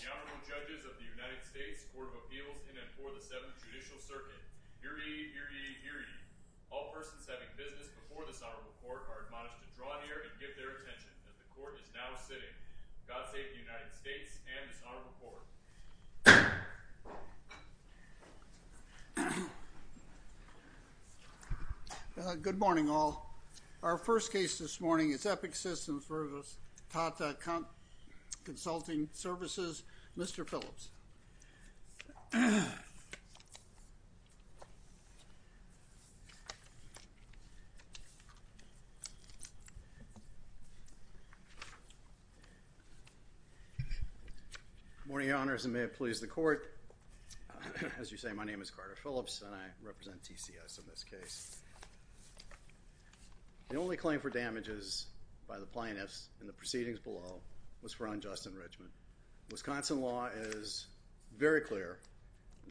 The Honorable Judges of the United States Court of Appeals in and for the Seventh Judicial Circuit. Hear ye, hear ye, hear ye. All persons having business before this Honorable Court are admonished to draw near and give their attention as the Court is now sitting. God save the United States and this Honorable Court. Good morning all. Our first case this morning is Epic Systems versus Tata Consulting Services, Mr. Phillips. Good morning, Your Honors, and may it please the Court, as you say, my name is Carter Phillips and I represent TCS in this case. The only claim for damages by the plaintiffs in the proceedings below was for unjust enrichment. Wisconsin law is very clear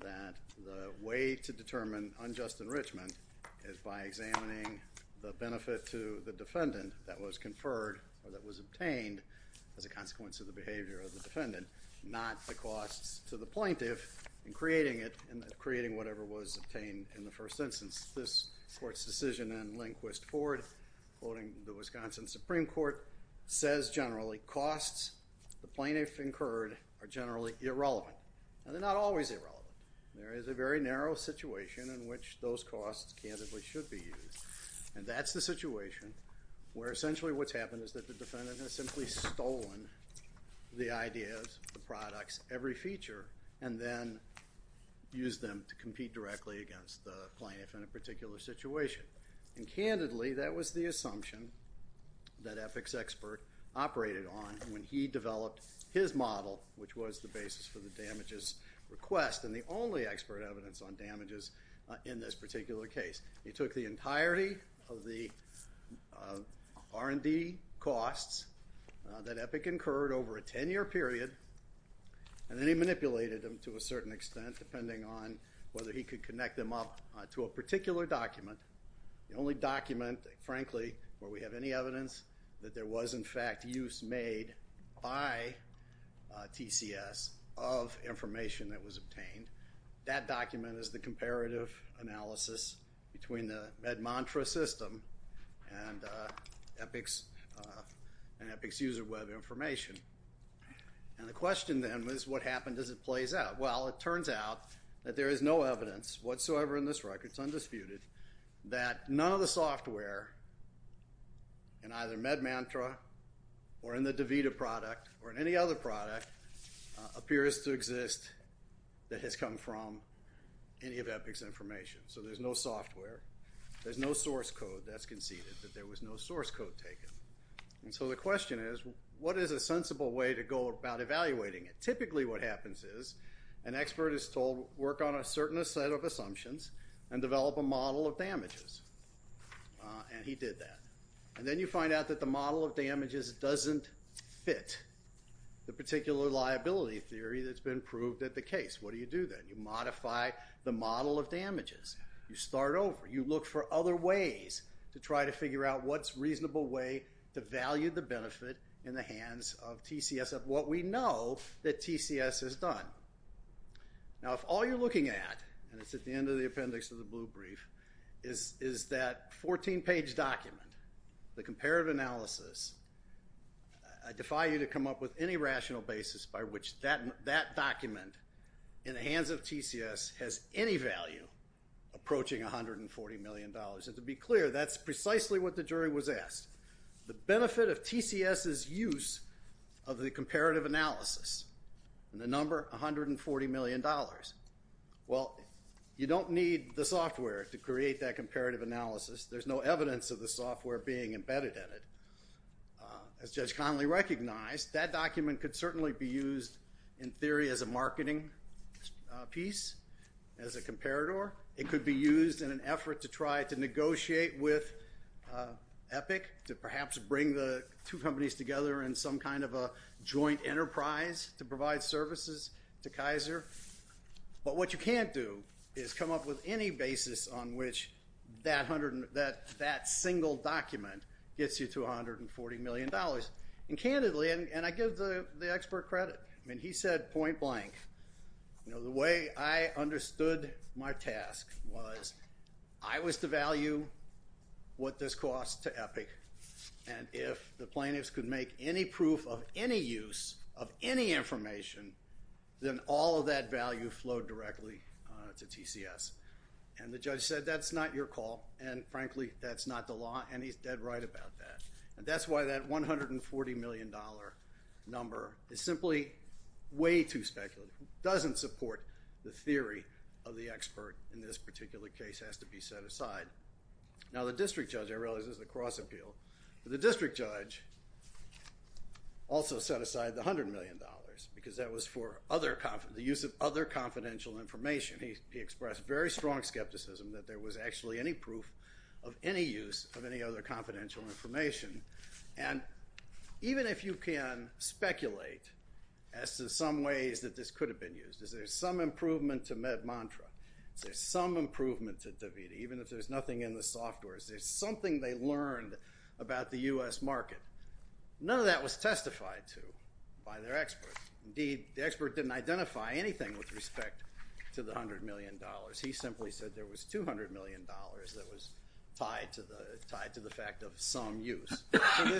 that the way to determine unjust enrichment is by examining the benefit to the defendant that was conferred or that was obtained as a consequence of the behavior of the defendant, not the costs to the plaintiff in creating it and creating whatever was obtained in the first instance. This Court's decision in Lindquist-Ford, quoting the Wisconsin Supreme Court, says generally costs the plaintiff incurred are generally irrelevant. And they're not always irrelevant. There is a very narrow situation in which those costs candidly should be used. And that's the situation where essentially what's happened is that the defendant has simply stolen the ideas, the products, every feature, and then used them to compete directly against the plaintiff in a particular situation. And candidly, that was the assumption that Epic's expert operated on when he developed his model, which was the basis for the damages request and the only expert evidence on damages in this particular case. He took the entirety of the R&D costs that Epic incurred over a 10-year period, and then he manipulated them to a certain extent, depending on whether he could connect them up to a particular document. The only document, frankly, where we have any evidence that there was, in fact, use made by TCS of information that was obtained. That document is the comparative analysis between the MedMantra system and Epic's user web information. And the question, then, is what happened as it plays out? Well, it turns out that there is no evidence whatsoever in this record, it's undisputed, that none of the software in either MedMantra or in the DaVita product or in any other product appears to exist that has come from any of Epic's information. So there's no software, there's no source code that's conceded, that there was no source code taken. And so the question is, what is a sensible way to go about evaluating it? Typically what happens is an expert is told, work on a certain set of assumptions and develop a model of damages. And he did that. And then you find out that the model of damages doesn't fit the particular liability theory that's been proved at the case. What do you do then? You modify the model of damages. You start over. You look for other ways to try to figure out what's a reasonable way to value the benefit in the hands of TCS of what we know that TCS has done. Now, if all you're looking at, and it's at the end of the appendix of the blue brief, is that 14-page document, the comparative analysis, I defy you to come up with any rational basis by which that document in the hands of TCS has any value approaching $140 million. And to be clear, that's precisely what the jury was asked. The benefit of TCS's use of the comparative analysis, and the number $140 million, well, you don't need the software to create that comparative analysis. There's no evidence of the software being embedded in it. As Judge Conley recognized, that document could certainly be used in theory as a marketing piece, as a comparator. It could be used in an effort to try to negotiate with Epic to perhaps bring the two companies together in some kind of a joint enterprise to provide services to Kaiser. But what you can't do is come up with any basis on which that single document gets you to $140 million. And candidly, and I give the expert credit, I mean, he said point blank, the way I understood my task was I was to value what this cost to Epic, and if the plaintiffs could make any proof of any use of any information, then all of that value flowed directly to TCS. And the judge said that's not your call, and frankly, that's not the law, and he's dead right about that. And that's why that $140 million number is simply way too speculative, doesn't support the theory of the expert in this particular case has to be set aside. Now the district judge, I realize this is a cross-appeal, but the district judge also set aside the $100 million because that was for the use of other confidential information. He expressed very strong skepticism that there was actually any proof of any use of any other confidential information. And even if you can speculate as to some ways that this could have been used, is there some improvement to MedMontra, is there some improvement to DaVita, even if there's nothing in the software, is there something they learned about the U.S. market? None of that was testified to by their expert. Indeed, the expert didn't identify anything with respect to the $100 million. He simply said there was $200 million that was tied to the fact of some use. And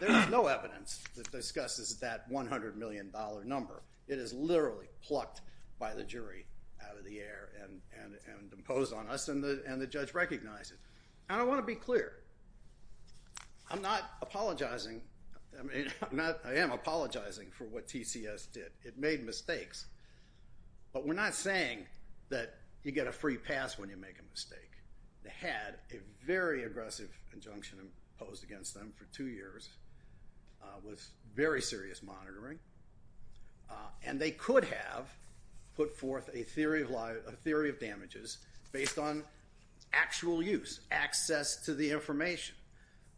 there's no evidence that discusses that $100 million number. It is literally plucked by the jury out of the air and imposed on us, and the judge recognized it. And I want to be clear, I'm not apologizing, I am apologizing for what TCS did. It made mistakes. But we're not saying that you get a free pass when you make a mistake. They had a very aggressive injunction imposed against them for two years with very serious monitoring, and they could have put forth a theory of damages based on actual use, access to the information.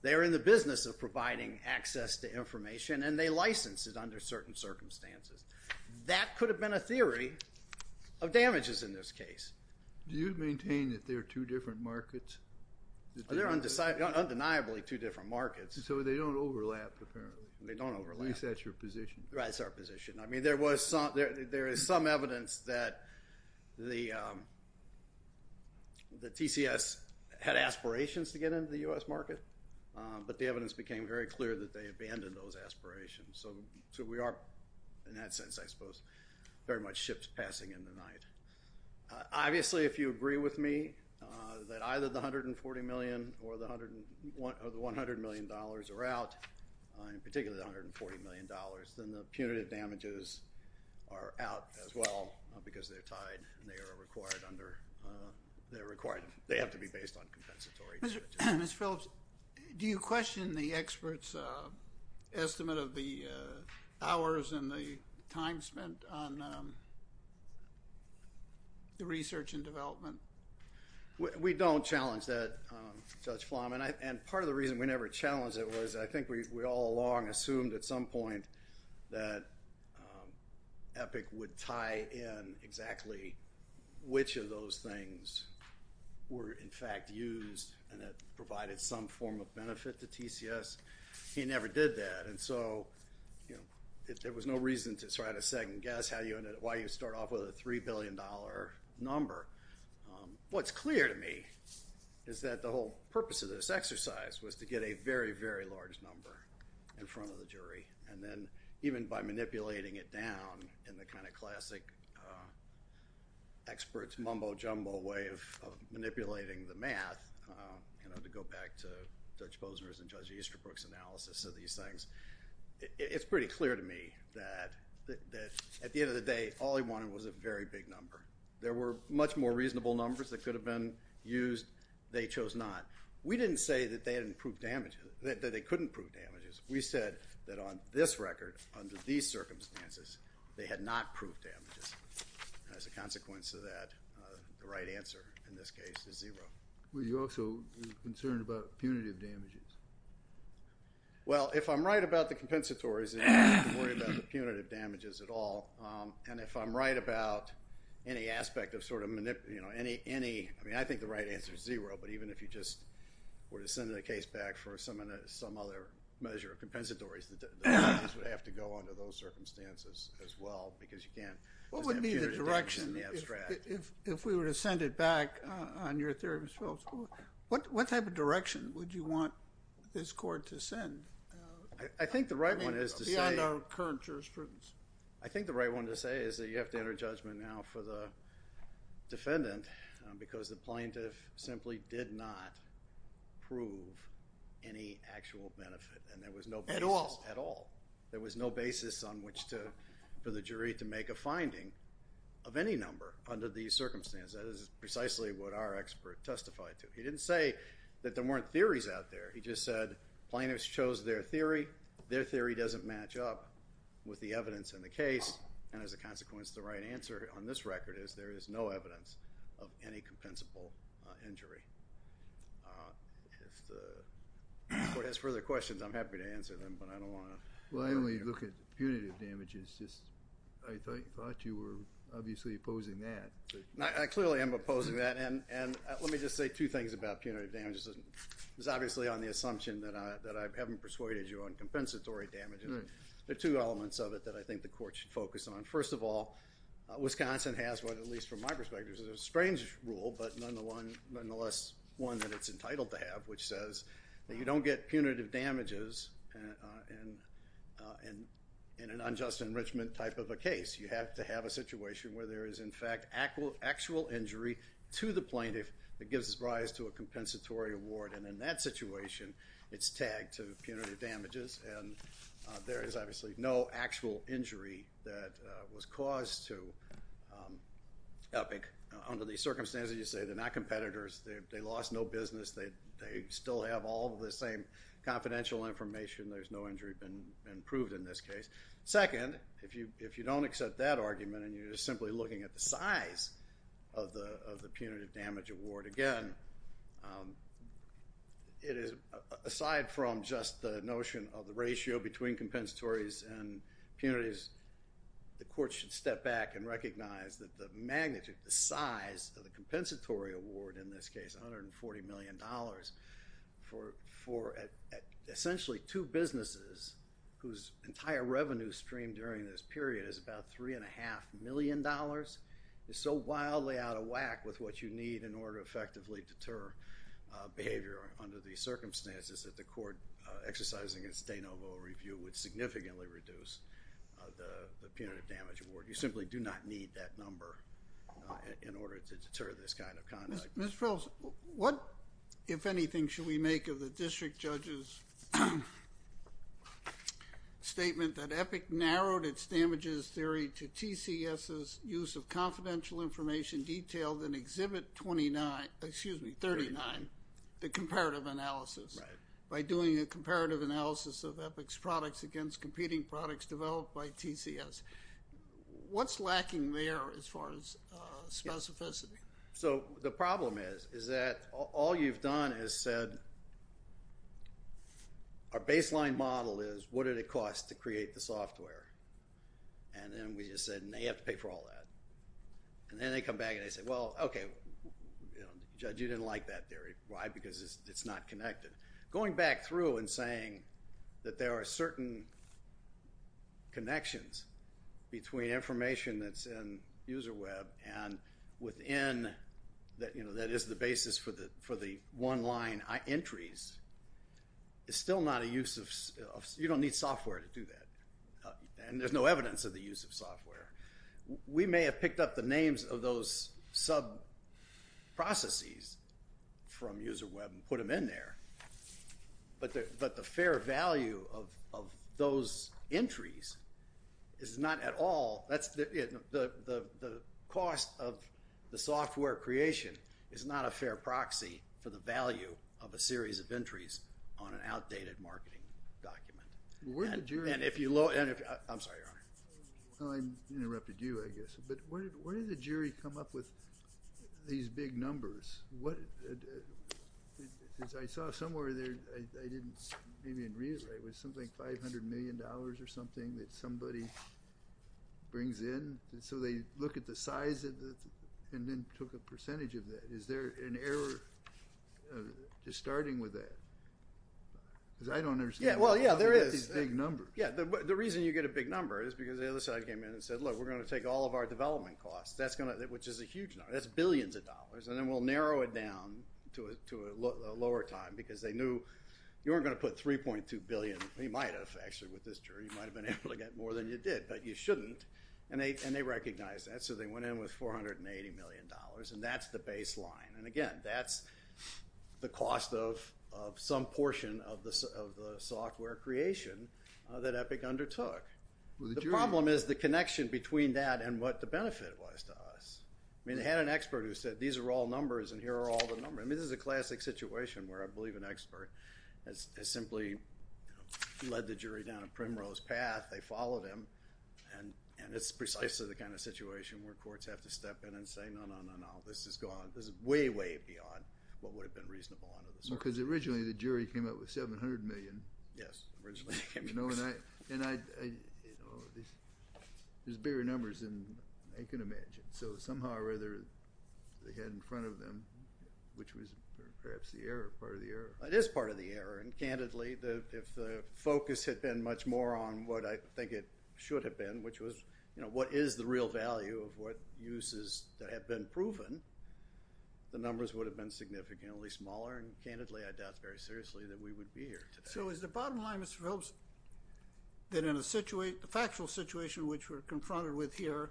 They're in the business of providing access to information, and they licensed it under certain circumstances. That could have been a theory of damages in this case. Do you maintain that they're two different markets? They're undeniably two different markets. So they don't overlap, apparently. They don't overlap. At least that's your position. Right, that's our position. I mean, there is some evidence that the TCS had aspirations to get into the U.S. market, but the evidence became very clear that they abandoned those aspirations. So we are, in that sense, I suppose, very much ships passing in the night. Obviously, if you agree with me that either the $140 million or the $100 million are out, particularly the $140 million, then the punitive damages are out as well because they're tied, and they are required under—they have to be based on compensatory charges. Mr. Phillips, do you question the experts' estimate of the hours and the time spent on the research and development? We don't challenge that, Judge Flom. And part of the reason we never challenged it was I think we all along assumed at some point that Epic would tie in exactly which of those things were, in fact, used and that provided some form of benefit to TCS. He never did that, and so there was no reason to try to second-guess why you start off with a $3 billion number. What's clear to me is that the whole purpose of this exercise was to get a very, very large number in front of the jury, and then even by manipulating it down in the kind of classic experts' mumbo-jumbo way of manipulating the math, to go back to Judge Posner's and Judge Easterbrook's analysis of these things, it's pretty clear to me that at the end of the day, all he wanted was a very big number. There were much more reasonable numbers that could have been used. They chose not. We didn't say that they couldn't prove damages. We said that on this record, under these circumstances, they had not proved damages. As a consequence of that, the right answer in this case is zero. Were you also concerned about punitive damages? Well, if I'm right about the compensatories, then you don't have to worry about the punitive damages at all. And if I'm right about any aspect of sort of manipulating, you know, any—I mean, I think the right answer is zero, but even if you just were to send the case back for some other measure of compensatories, the damages would have to go under those circumstances as well because you can't just have punitive damages in the abstract. What would be the direction if we were to send it back on your theory of spills? What type of direction would you want this court to send? I think the right one is to say— Beyond our current jurisprudence. I think the right one to say is that you have to enter judgment now for the defendant because the plaintiff simply did not prove any actual benefit and there was no— At all. At all. There was no basis on which to—for the jury to make a finding of any number under these circumstances. That is precisely what our expert testified to. He didn't say that there weren't theories out there. He just said plaintiffs chose their theory. Their theory doesn't match up with the evidence in the case, and as a consequence, the right answer on this record is there is no evidence of any compensable injury. If the court has further questions, I'm happy to answer them, but I don't want to— Well, I only look at punitive damages. I thought you were obviously opposing that. I clearly am opposing that, and let me just say two things about punitive damages. It's obviously on the assumption that I haven't persuaded you on compensatory damages. There are two elements of it that I think the court should focus on. First of all, Wisconsin has what, at least from my perspective, is a strange rule, but nonetheless one that it's entitled to have, which says that you don't get punitive damages in an unjust enrichment type of a case. You have to have a situation where there is, in fact, actual injury to the plaintiff that gives rise to a compensatory award, and in that situation, it's tagged to punitive damages, and there is obviously no actual injury that was caused to Epic under these circumstances. As you say, they're not competitors. They lost no business. They still have all of the same confidential information. There's no injury been proved in this case. Second, if you don't accept that argument and you're just simply looking at the size of the punitive damage award, again, aside from just the notion of the ratio between compensatories and punitives, the court should step back and recognize that the magnitude, the size of the compensatory award in this case, $140 million, for essentially two businesses whose entire revenue stream during this period is about $3.5 million is so wildly out of whack with what you need in order to effectively deter behavior under these circumstances that the court exercising its de novo review would significantly reduce the punitive damage award. You simply do not need that number in order to deter this kind of conduct. Mr. Phillips, what, if anything, should we make of the district judge's statement that Epic narrowed its damages theory to TCS's use of confidential information detailed in Exhibit 39, the comparative analysis, by doing a comparative analysis of Epic's products against competing products developed by TCS? What's lacking there as far as specificity? So the problem is that all you've done is said, our baseline model is what did it cost to create the software? And then we just said, no, you have to pay for all that. And then they come back and they say, well, okay, judge, you didn't like that theory. Why? Because it's not connected. Going back through and saying that there are certain connections between information that's in UserWeb and within, that is the basis for the one-line entries, is still not a use of, you don't need software to do that. And there's no evidence of the use of software. We may have picked up the names of those sub-processes from UserWeb and put them in there. But the fair value of those entries is not at all, the cost of the software creation is not a fair proxy for the value of a series of entries on an outdated marketing document. And if you, I'm sorry, Your Honor. I interrupted you, I guess. But where did the jury come up with these big numbers? I saw somewhere there, I didn't, maybe it was something like $500 million or something that somebody brings in. So they look at the size and then took a percentage of that. Is there an error just starting with that? Because I don't understand. Well, yeah, there is. These big numbers. Yeah, the reason you get a big number is because the other side came in and said, look, we're going to take all of our development costs, which is a huge number. That's billions of dollars, and then we'll narrow it down to a lower time because they knew you weren't going to put $3.2 billion. You might have, actually, with this jury. You might have been able to get more than you did, but you shouldn't. And they recognized that, so they went in with $480 million, and that's the baseline. And again, that's the cost of some portion of the software creation that Epic undertook. The problem is the connection between that and what the benefit was to us. I mean, they had an expert who said, these are all numbers, and here are all the numbers. I mean, this is a classic situation where I believe an expert has simply led the jury down a primrose path. They followed him, and it's precisely the kind of situation where courts have to step in and say, no, no, no, no, this is gone. This is way, way beyond what would have been reasonable under the circumstances. Because originally the jury came out with $700 million. Yes, originally. And there's bigger numbers than I can imagine. So somehow or other, they had in front of them, which was perhaps the error, part of the error. It is part of the error. And candidly, if the focus had been much more on what I think it should have been, which was what is the real value of what uses have been proven, the numbers would have been significantly smaller. And candidly, I doubt very seriously that we would be here today. So is the bottom line, Mr. Phelps, that in a factual situation which we're confronted with here,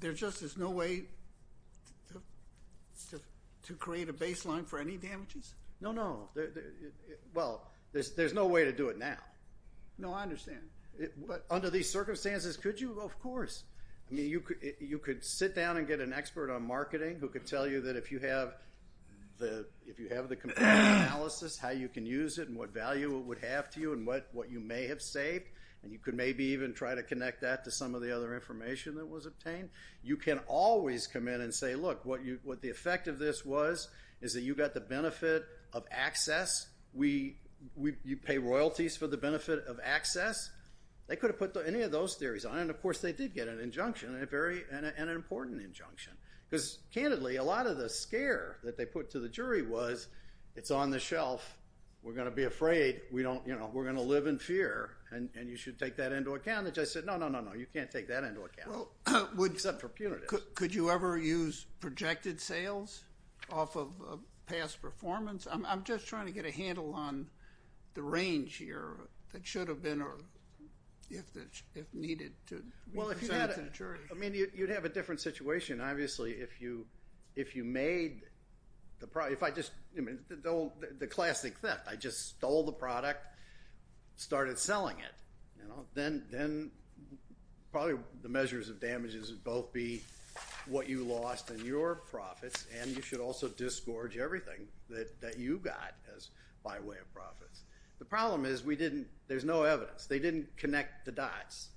there just is no way to create a baseline for any damages? No, no. Well, there's no way to do it now. No, I understand. But under these circumstances, could you? Of course. I mean, you could sit down and get an expert on marketing who could tell you that if you have the how you can use it and what value it would have to you and what you may have saved. And you could maybe even try to connect that to some of the other information that was obtained. You can always come in and say, look, what the effect of this was is that you got the benefit of access. You pay royalties for the benefit of access. They could have put any of those theories on. And, of course, they did get an injunction, and an important injunction. Because, candidly, a lot of the scare that they put to the jury was it's on the shelf. We're going to be afraid. We're going to live in fear, and you should take that into account. They just said, no, no, no, no, you can't take that into account, except for punitive. Could you ever use projected sales off of past performance? I'm just trying to get a handle on the range here that should have been or if needed to present to the jury. I mean, you'd have a different situation, obviously, if you made the classic theft. I just stole the product, started selling it. Then probably the measures of damage would both be what you lost in your profits, and you should also disgorge everything that you got by way of profits. The problem is there's no evidence. They didn't connect the dots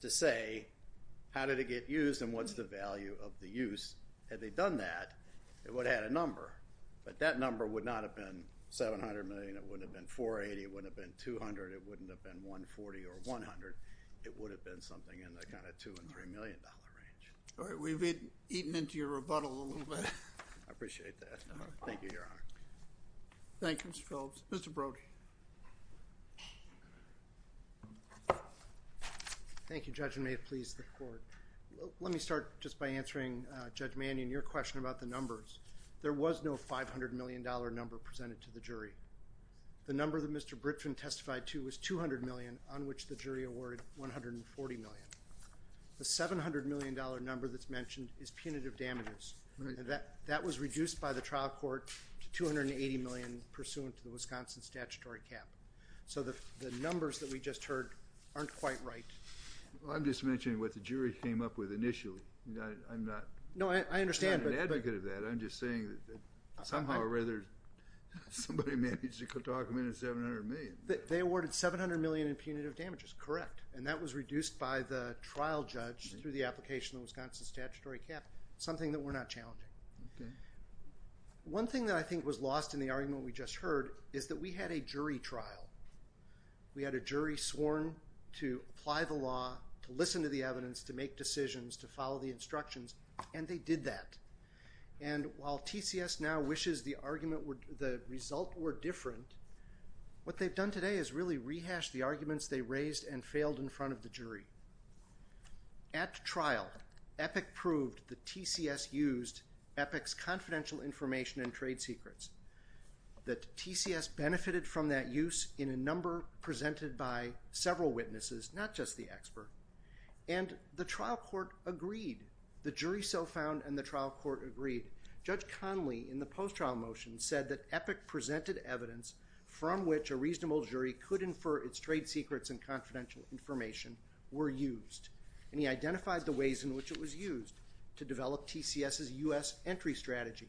to say how did it get used and what's the value of the use. Had they done that, it would have had a number. But that number would not have been $700 million. It wouldn't have been $480 million. It wouldn't have been $200 million. It wouldn't have been $140 million or $100 million. It would have been something in the kind of $2 million and $3 million range. All right. We've eaten into your rebuttal a little bit. I appreciate that. Thank you, Your Honor. Thank you, Mr. Phillips. Mr. Brody. Thank you, Judge, and may it please the Court. Let me start just by answering Judge Mannion, your question about the numbers. There was no $500 million number presented to the jury. The number that Mr. Britton testified to was $200 million, on which the jury awarded $140 million. The $700 million number that's mentioned is punitive damages. That was reduced by the trial court to $280 million pursuant to the Wisconsin statutory cap. So the numbers that we just heard aren't quite right. I'm just mentioning what the jury came up with initially. I'm not an advocate of that. I'm just saying that somehow or other somebody managed to document $700 million. They awarded $700 million in punitive damages. Correct. And that was reduced by the trial judge through the application of the Wisconsin statutory cap, something that we're not challenging. One thing that I think was lost in the argument we just heard is that we had a jury trial. We had a jury sworn to apply the law, to listen to the evidence, to make decisions, to follow the instructions, and they did that. And while TCS now wishes the result were different, what they've done today is really rehash the arguments they raised and failed in front of the jury. At trial, EPIC proved that TCS used EPIC's confidential information and trade secrets, that TCS benefited from that use in a number presented by several witnesses, not just the expert, and the trial court agreed. The jury so found and the trial court agreed. Judge Conley, in the post-trial motion, said that EPIC presented evidence from which a reasonable jury could infer its trade secrets and confidential information were used, and he identified the ways in which it was used to develop TCS's U.S. entry strategy.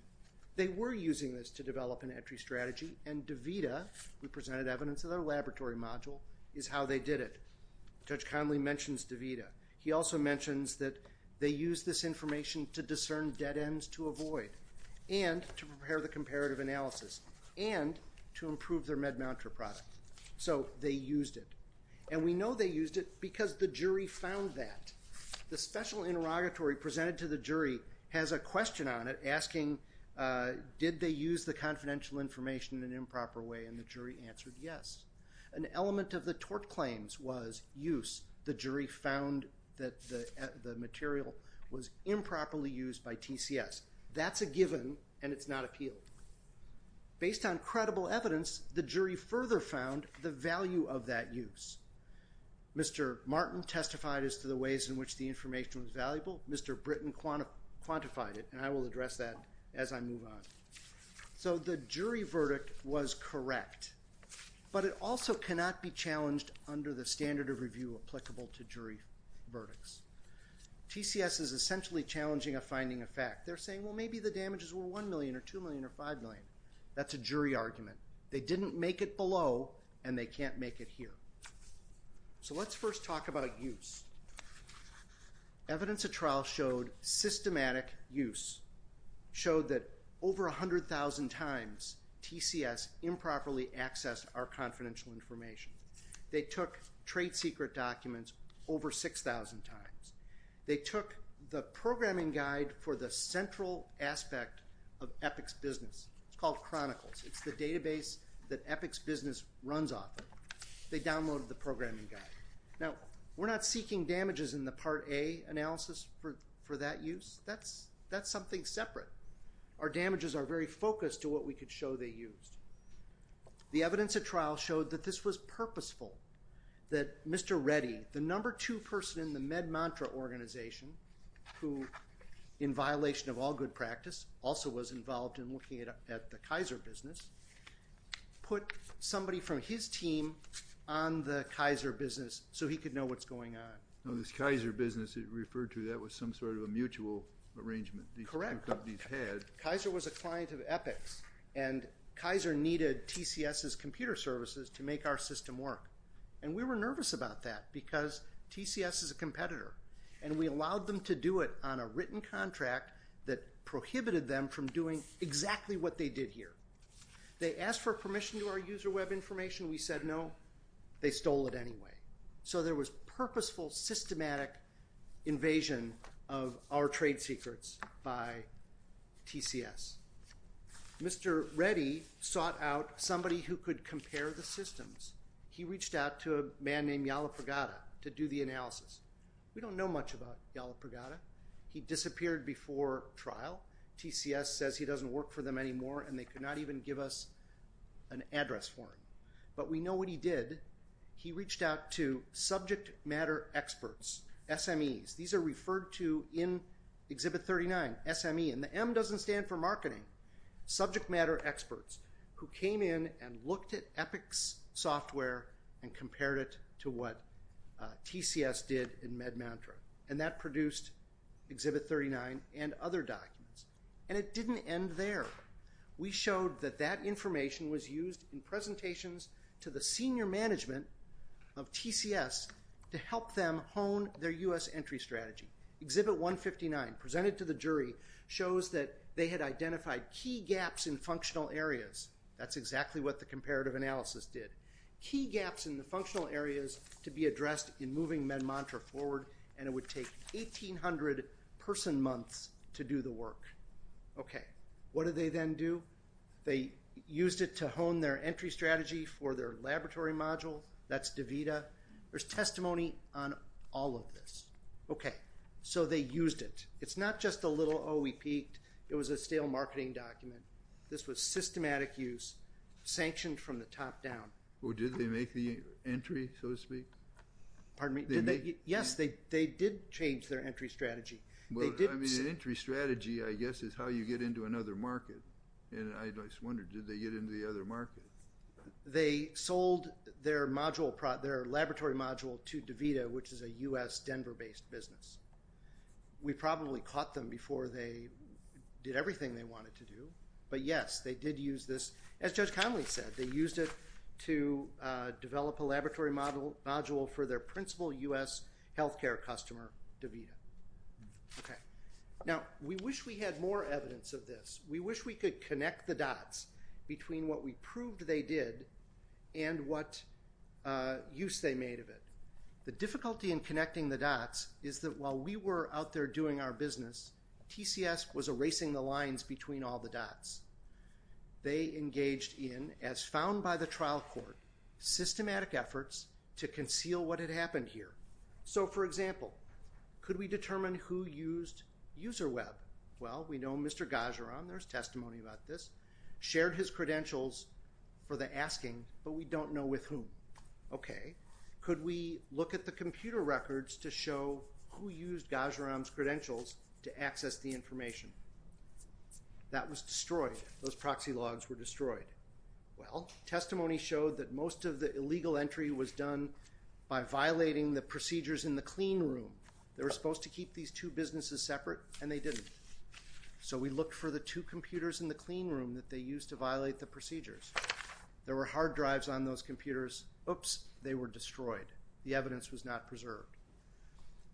They were using this to develop an entry strategy, and DaVita, who presented evidence in their laboratory module, is how they did it. Judge Conley mentions DaVita. He also mentions that they used this information to discern dead ends to avoid and to prepare the comparative analysis and to improve their MedMounter product. So they used it. And we know they used it because the jury found that. The special interrogatory presented to the jury has a question on it asking, did they use the confidential information in an improper way, and the jury answered yes. An element of the tort claims was use. The jury found that the material was improperly used by TCS. That's a given, and it's not appealed. Based on credible evidence, the jury further found the value of that use. Mr. Martin testified as to the ways in which the information was valuable. Mr. Britton quantified it, and I will address that as I move on. So the jury verdict was correct, but it also cannot be challenged under the standard of review applicable to jury verdicts. TCS is essentially challenging a finding of fact. They're saying, well, maybe the damages were $1 million or $2 million or $5 million. That's a jury argument. They didn't make it below, and they can't make it here. So let's first talk about a use. Evidence of trial showed systematic use, showed that over 100,000 times TCS improperly accessed our confidential information. They took trade secret documents over 6,000 times. They took the programming guide for the central aspect of Epic's business. It's called Chronicles. It's the database that Epic's business runs off of. They downloaded the programming guide. Now, we're not seeking damages in the Part A analysis for that use. That's something separate. Our damages are very focused to what we could show they used. The evidence of trial showed that this was purposeful, that Mr. Reddy, the number two person in the Med Mantra organization, who in violation of all good practice also was involved in looking at the Kaiser business, put somebody from his team on the Kaiser business so he could know what's going on. No, this Kaiser business that you referred to, that was some sort of a mutual arrangement. Correct. These two companies had. Kaiser was a client of Epic's, and Kaiser needed TCS's computer services to make our system work. And we were nervous about that because TCS is a competitor, and we allowed them to do it on a written contract that prohibited them from doing exactly what they did here. They asked for permission to our user web information. We said no. They stole it anyway. So there was purposeful, systematic invasion of our trade secrets by TCS. Mr. Reddy sought out somebody who could compare the systems. He reached out to a man named Yala Pregada to do the analysis. We don't know much about Yala Pregada. He disappeared before trial. TCS says he doesn't work for them anymore, and they could not even give us an address for him. But we know what he did. He reached out to subject matter experts, SMEs. These are referred to in Exhibit 39, SME. And the M doesn't stand for marketing. Subject matter experts who came in and looked at Epic's software and compared it to what TCS did in MedMantra. And that produced Exhibit 39 and other documents. And it didn't end there. We showed that that information was used in presentations to the senior management of TCS to help them hone their U.S. entry strategy. Exhibit 159, presented to the jury, shows that they had identified key gaps in functional areas. That's exactly what the comparative analysis did. Key gaps in the functional areas to be addressed in moving MedMantra forward, and it would take 1,800 person months to do the work. Okay. What did they then do? They used it to hone their entry strategy for their laboratory module. That's DaVita. There's testimony on all of this. Okay. So they used it. It's not just a little, oh, we peaked. It was a stale marketing document. This was systematic use, sanctioned from the top down. Well, did they make the entry, so to speak? Pardon me? Yes, they did change their entry strategy. Well, I mean, an entry strategy, I guess, is how you get into another market. And I just wonder, did they get into the other market? They sold their laboratory module to DaVita, which is a U.S. Denver-based business. We probably caught them before they did everything they wanted to do. But, yes, they did use this. As Judge Connolly said, they used it to develop a laboratory module for their principal U.S. health care customer, DaVita. Okay. Now, we wish we had more evidence of this. We wish we could connect the dots between what we proved they did and what use they made of it. The difficulty in connecting the dots is that while we were out there doing our business, TCS was erasing the lines between all the dots. They engaged in, as found by the trial court, systematic efforts to conceal what had happened here. So, for example, could we determine who used UserWeb? Well, we know Mr. Ghajiram, there's testimony about this, shared his credentials for the asking, but we don't know with whom. Okay. Could we look at the computer records to show who used Ghajiram's credentials to access the information? That was destroyed. Those proxy logs were destroyed. Well, testimony showed that most of the illegal entry was done by violating the procedures in the clean room. They were supposed to keep these two businesses separate, and they didn't. So we looked for the two computers in the clean room that they used to violate the procedures. There were hard drives on those computers. Oops, they were destroyed. The evidence was not preserved.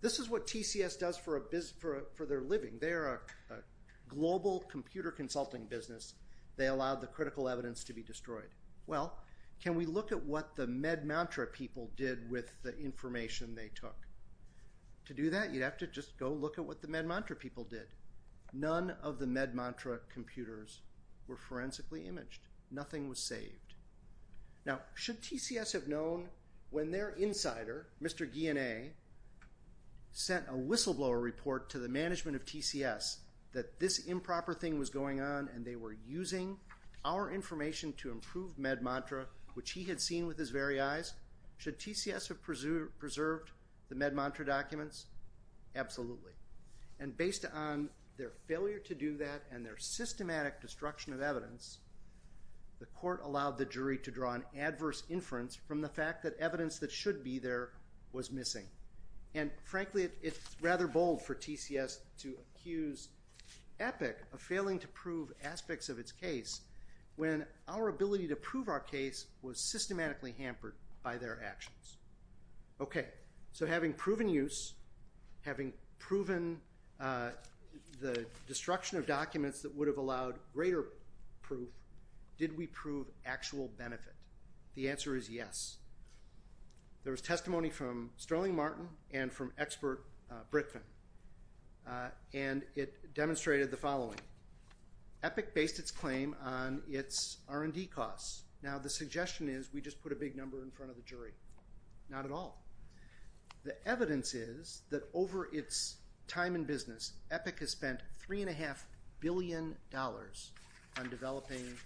This is what TCS does for their living. They are a global computer consulting business. They allowed the critical evidence to be destroyed. Well, can we look at what the Med Mantra people did with the information they took? To do that, you'd have to just go look at what the Med Mantra people did. None of the Med Mantra computers were forensically imaged. Nothing was saved. Now, should TCS have known when their insider, Mr. Guyenet, sent a whistleblower report to the management of TCS that this improper thing was going on and they were using our information to improve Med Mantra, which he had seen with his very eyes? Should TCS have preserved the Med Mantra documents? Absolutely. And based on their failure to do that and their systematic destruction of evidence, the court allowed the jury to draw an adverse inference from the fact that evidence that should be there was missing. And frankly, it's rather bold for TCS to accuse Epic of failing to prove aspects of its case when our ability to prove our case was systematically hampered by their actions. Okay, so having proven use, having proven the destruction of documents that would have allowed greater proof, did we prove actual benefit? The answer is yes. There was testimony from Sterling Martin and from expert Brickman, and it demonstrated the following. Epic based its claim on its R&D costs. Now, the suggestion is we just put a big number in front of the jury. Not at all. The evidence is that over its time in business, Epic has spent $3.5 billion on developing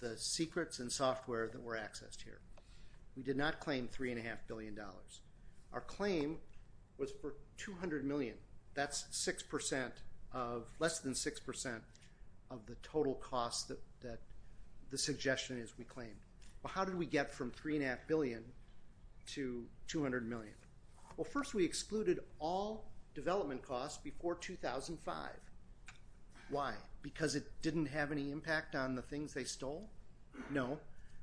the secrets and software that were accessed here. We did not claim $3.5 billion. Our claim was for $200 million. That's less than 6% of the total cost that the suggestion is we claim. Well, how did we get from $3.5 billion to $200 million? Well, first we excluded all development costs before 2005. Why? Because it didn't have any impact on the things they stole? No.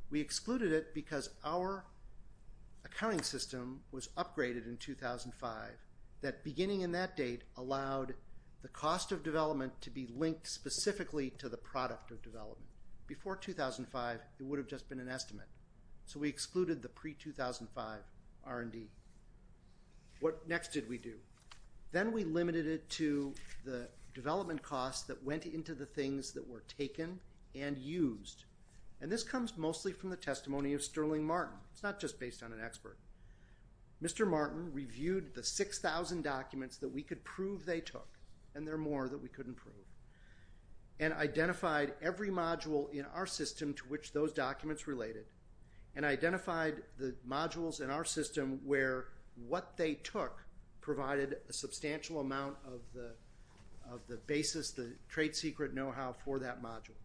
We excluded it because our accounting system was upgraded in 2005. That beginning in that date allowed the cost of development to be linked specifically to the product of development. Before 2005, it would have just been an estimate. So we excluded the pre-2005 R&D. What next did we do? Then we limited it to the development costs that went into the things that were taken and used. And this comes mostly from the testimony of Sterling Martin. It's not just based on an expert. Mr. Martin reviewed the 6,000 documents that we could prove they took, and there are more that we couldn't prove, and identified every module in our system to which those documents related, and identified the modules in our system where what they took provided a substantial amount of the basis, the trade secret know-how for that module.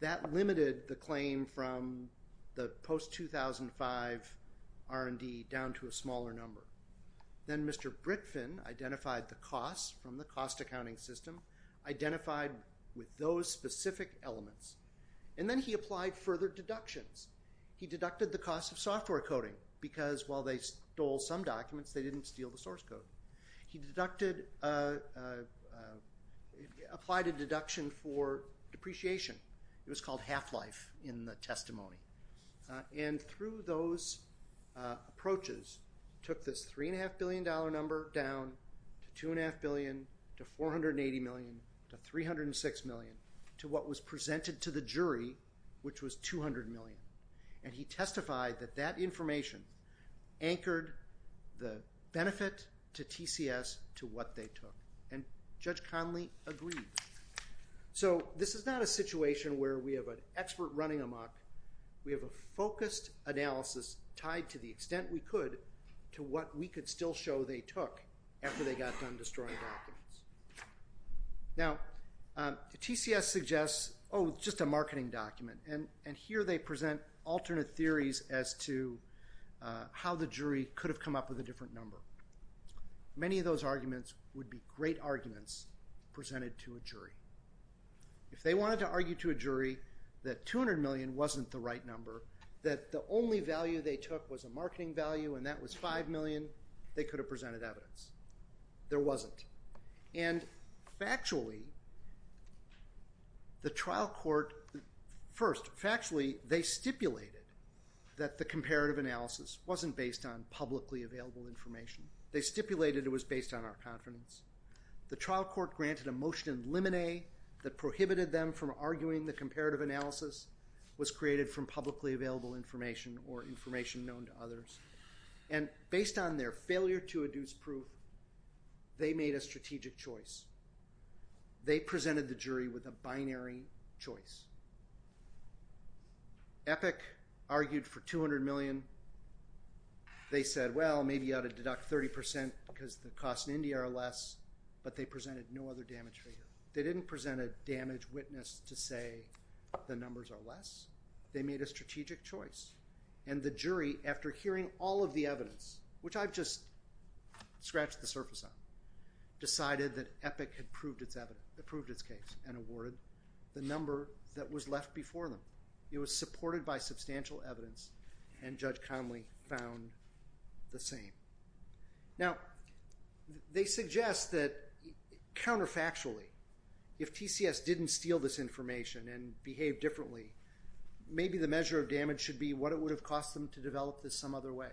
That limited the claim from the post-2005 R&D down to a smaller number. Then Mr. Brickfin identified the costs from the cost accounting system, identified with those specific elements, and then he applied further deductions. He deducted the cost of software coding because while they stole some documents, they didn't steal the source code. He applied a deduction for depreciation. It was called half-life in the testimony. And through those approaches, he took this $3.5 billion number down to $2.5 billion to $480 million to $306 million to what was presented to the jury, which was $200 million. And he testified that that information anchored the benefit to TCS to what they took. And Judge Conley agreed. So this is not a situation where we have an expert running amok. We have a focused analysis tied to the extent we could to what we could still show they took after they got done destroying documents. Now, TCS suggests, oh, it's just a marketing document. And here they present alternate theories as to how the jury could have come up with a different number. Many of those arguments would be great arguments presented to a jury. If they wanted to argue to a jury that $200 million wasn't the right number, that the only value they took was a marketing value and that was $5 million, they could have presented evidence. There wasn't. And factually, the trial court, first, factually they stipulated that the comparative analysis wasn't based on publicly available information. They stipulated it was based on our confidence. The trial court granted a motion in limine that prohibited them from arguing the comparative analysis And based on their failure to adduce proof, they made a strategic choice. They presented the jury with a binary choice. Epic argued for $200 million. They said, well, maybe you ought to deduct 30% because the costs in India are less, but they presented no other damage figure. They didn't present a damage witness to say the numbers are less. They made a strategic choice. And the jury, after hearing all of the evidence, which I've just scratched the surface on, decided that Epic had proved its case and awarded the number that was left before them. It was supported by substantial evidence, and Judge Conley found the same. Now, they suggest that counterfactually, if TCS didn't steal this information and behave differently, maybe the measure of damage should be what it would have cost them to develop this some other way.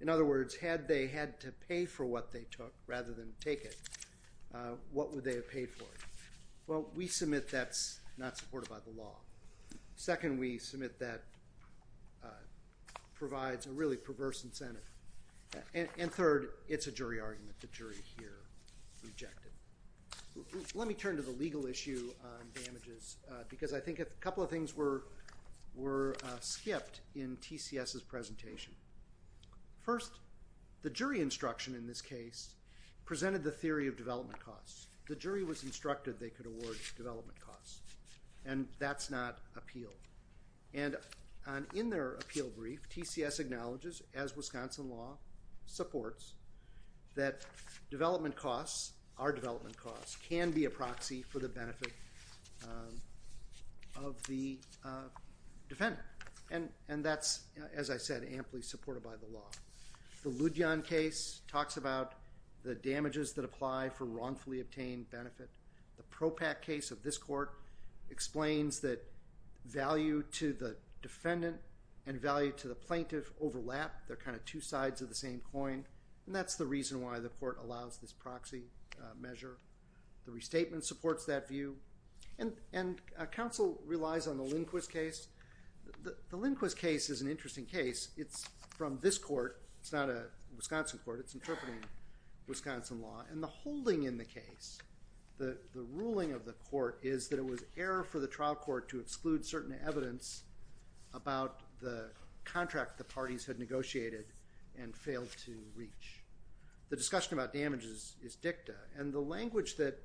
In other words, had they had to pay for what they took rather than take it, what would they have paid for it? Well, we submit that's not supported by the law. Second, we submit that provides a really perverse incentive. And third, it's a jury argument. The jury here rejected it. Let me turn to the legal issue on damages, because I think a couple of things were skipped in TCS's presentation. First, the jury instruction in this case presented the theory of development costs. The jury was instructed they could award development costs, and that's not appealed. And in their appeal brief, TCS acknowledges, as Wisconsin law supports, that development costs, our development costs, can be a proxy for the benefit of the defendant. And that's, as I said, amply supported by the law. The Ludhian case talks about the damages that apply for wrongfully obtained benefit. The Propack case of this court explains that value to the defendant and value to the plaintiff overlap. They're kind of two sides of the same coin. And that's the reason why the court allows this proxy measure. The restatement supports that view. And counsel relies on the Lindquist case. The Lindquist case is an interesting case. It's from this court. It's not a Wisconsin court. It's interpreting Wisconsin law. And the holding in the case, the ruling of the court, is that it was error for the trial court to exclude certain evidence about the contract the parties had negotiated and failed to reach. The discussion about damages is dicta. And the language that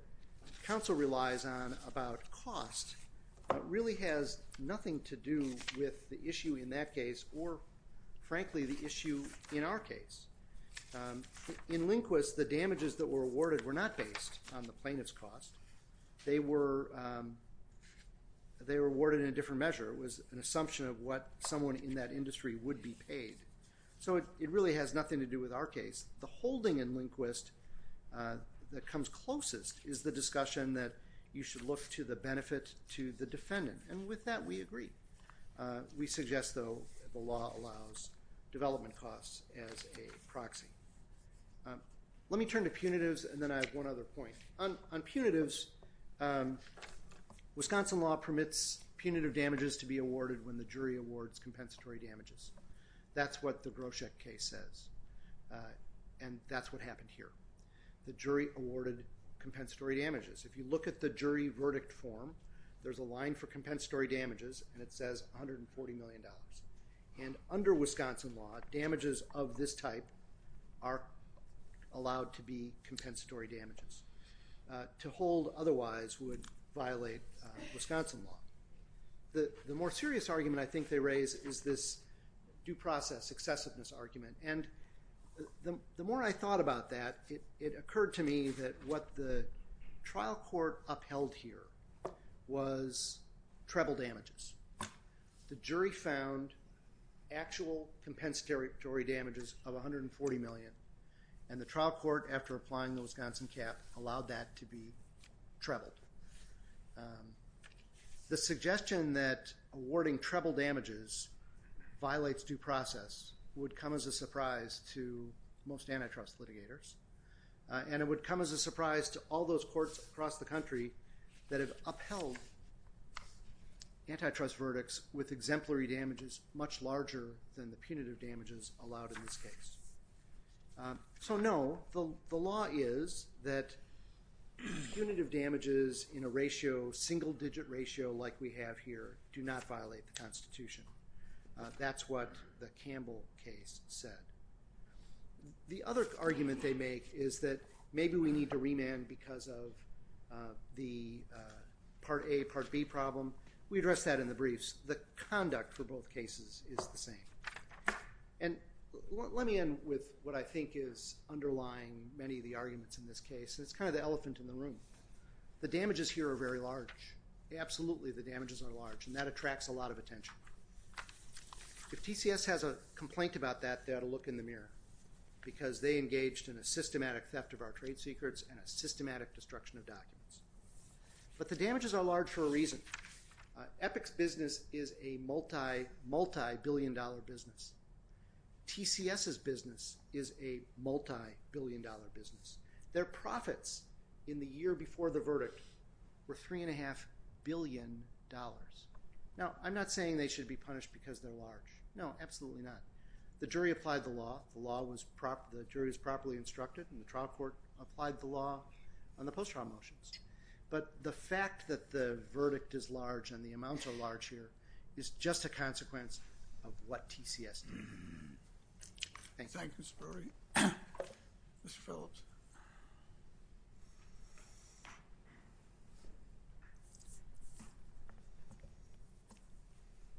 counsel relies on about cost really has nothing to do with the issue in that case or, frankly, the issue in our case. In Lindquist, the damages that were awarded were not based on the plaintiff's cost. They were awarded in a different measure. It was an assumption of what someone in that industry would be paid. So it really has nothing to do with our case. The holding in Lindquist that comes closest is the discussion that you should look to the benefit to the defendant. And with that, we agree. We suggest, though, the law allows development costs as a proxy. Let me turn to punitives, and then I have one other point. On punitives, Wisconsin law permits punitive damages to be awarded when the jury awards compensatory damages. That's what the Groscheck case says, and that's what happened here. The jury awarded compensatory damages. If you look at the jury verdict form, there's a line for compensatory damages, and it says $140 million. And under Wisconsin law, damages of this type are allowed to be compensatory damages. To hold otherwise would violate Wisconsin law. The more serious argument I think they raise is this due process excessiveness argument. And the more I thought about that, it occurred to me that what the trial court upheld here was treble damages. The jury found actual compensatory damages of $140 million, and the trial court, after applying the Wisconsin cap, allowed that to be trebled. The suggestion that awarding treble damages violates due process would come as a surprise to most antitrust litigators, and it would come as a surprise to all those courts across the country that have upheld antitrust verdicts with exemplary damages much larger than the punitive damages allowed in this case. So no, the law is that punitive damages in a single-digit ratio like we have here do not violate the Constitution. That's what the Campbell case said. The other argument they make is that maybe we need to remand because of the Part A, Part B problem. We addressed that in the briefs. The conduct for both cases is the same. And let me end with what I think is underlying many of the arguments in this case, and it's kind of the elephant in the room. The damages here are very large. If TCS has a complaint about that, they ought to look in the mirror because they engaged in a systematic theft of our trade secrets and a systematic destruction of documents. But the damages are large for a reason. Epic's business is a multi-billion-dollar business. TCS's business is a multi-billion-dollar business. Their profits in the year before the verdict were $3.5 billion. Now, I'm not saying they should be punished because they're large. No, absolutely not. The jury applied the law. The jury was properly instructed, and the trial court applied the law on the post-trial motions. But the fact that the verdict is large and the amounts are large here is just a consequence of what TCS did. Thank you. Thank you, Spiro. Mr. Phillips.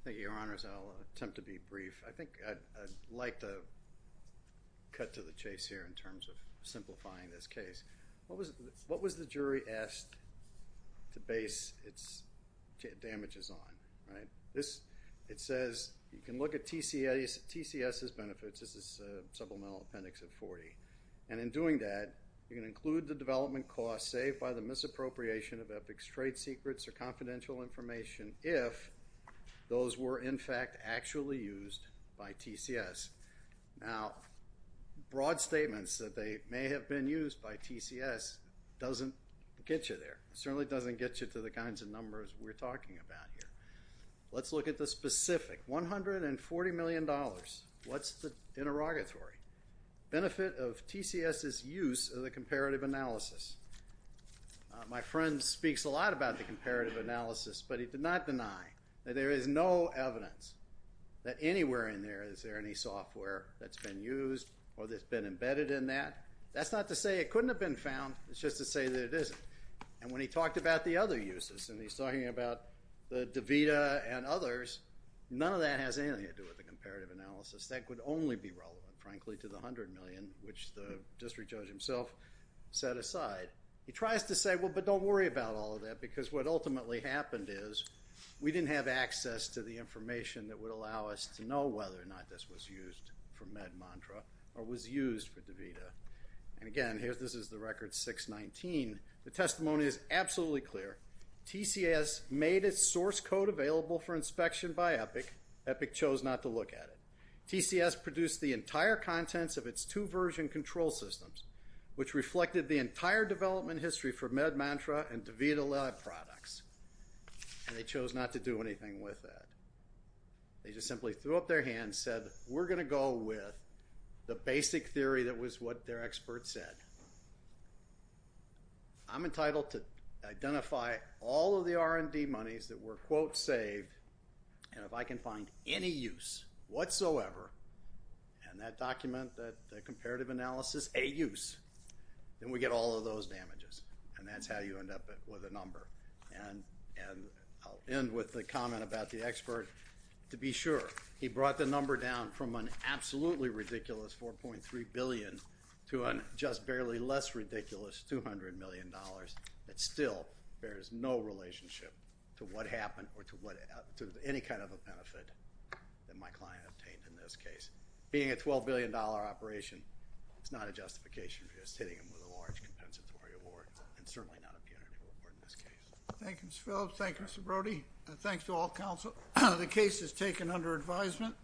Thank you, Your Honors. I'll attempt to be brief. I think I'd like to cut to the chase here in terms of simplifying this case. What was the jury asked to base its damages on? It says you can look at TCS's benefits. This is Supplemental Appendix of 40. And in doing that, you can include the development costs saved by the misappropriation of Epic's trade secrets or confidential information if those were, in fact, actually used by TCS. Now, broad statements that they may have been used by TCS doesn't get you there. It certainly doesn't get you to the kinds of numbers we're talking about here. Let's look at the specific. $140 million. What's the interrogatory? Benefit of TCS's use of the comparative analysis. My friend speaks a lot about the comparative analysis, but he did not deny that there is no evidence that anywhere in there is there any software that's been used or that's been embedded in that. That's not to say it couldn't have been found. It's just to say that it isn't. And when he talked about the other uses, and he's talking about the DaVita and others, none of that has anything to do with the comparative analysis. That could only be relevant, frankly, to the $100 million, which the district judge himself set aside. He tries to say, well, but don't worry about all of that, because what ultimately happened is we didn't have access to the information that would allow us to know whether or not this was used for MedMontra or was used for DaVita. And again, this is the record 619. The testimony is absolutely clear. TCS made its source code available for inspection by Epic. Epic chose not to look at it. TCS produced the entire contents of its two version control systems, which reflected the entire development history for MedMontra and DaVita Lab products, and they chose not to do anything with that. They just simply threw up their hands and said, we're going to go with the basic theory that was what their expert said. I'm entitled to identify all of the R&D monies that were, quote, saved, and if I can find any use whatsoever, and that document, that comparative analysis, a use, then we get all of those damages, and that's how you end up with a number. And I'll end with a comment about the expert. To be sure, he brought the number down from an absolutely ridiculous $4.3 billion to a just barely less ridiculous $200 million. That still bears no relationship to what happened or to any kind of a benefit that my client obtained in this case. Being a $12 billion operation, it's not a justification for just hitting him with a large compensatory award, and certainly not a punitive award in this case. Thank you, Mr. Phillips. Thank you, Mr. Brody. And thanks to all counsel. The case is taken under advisement.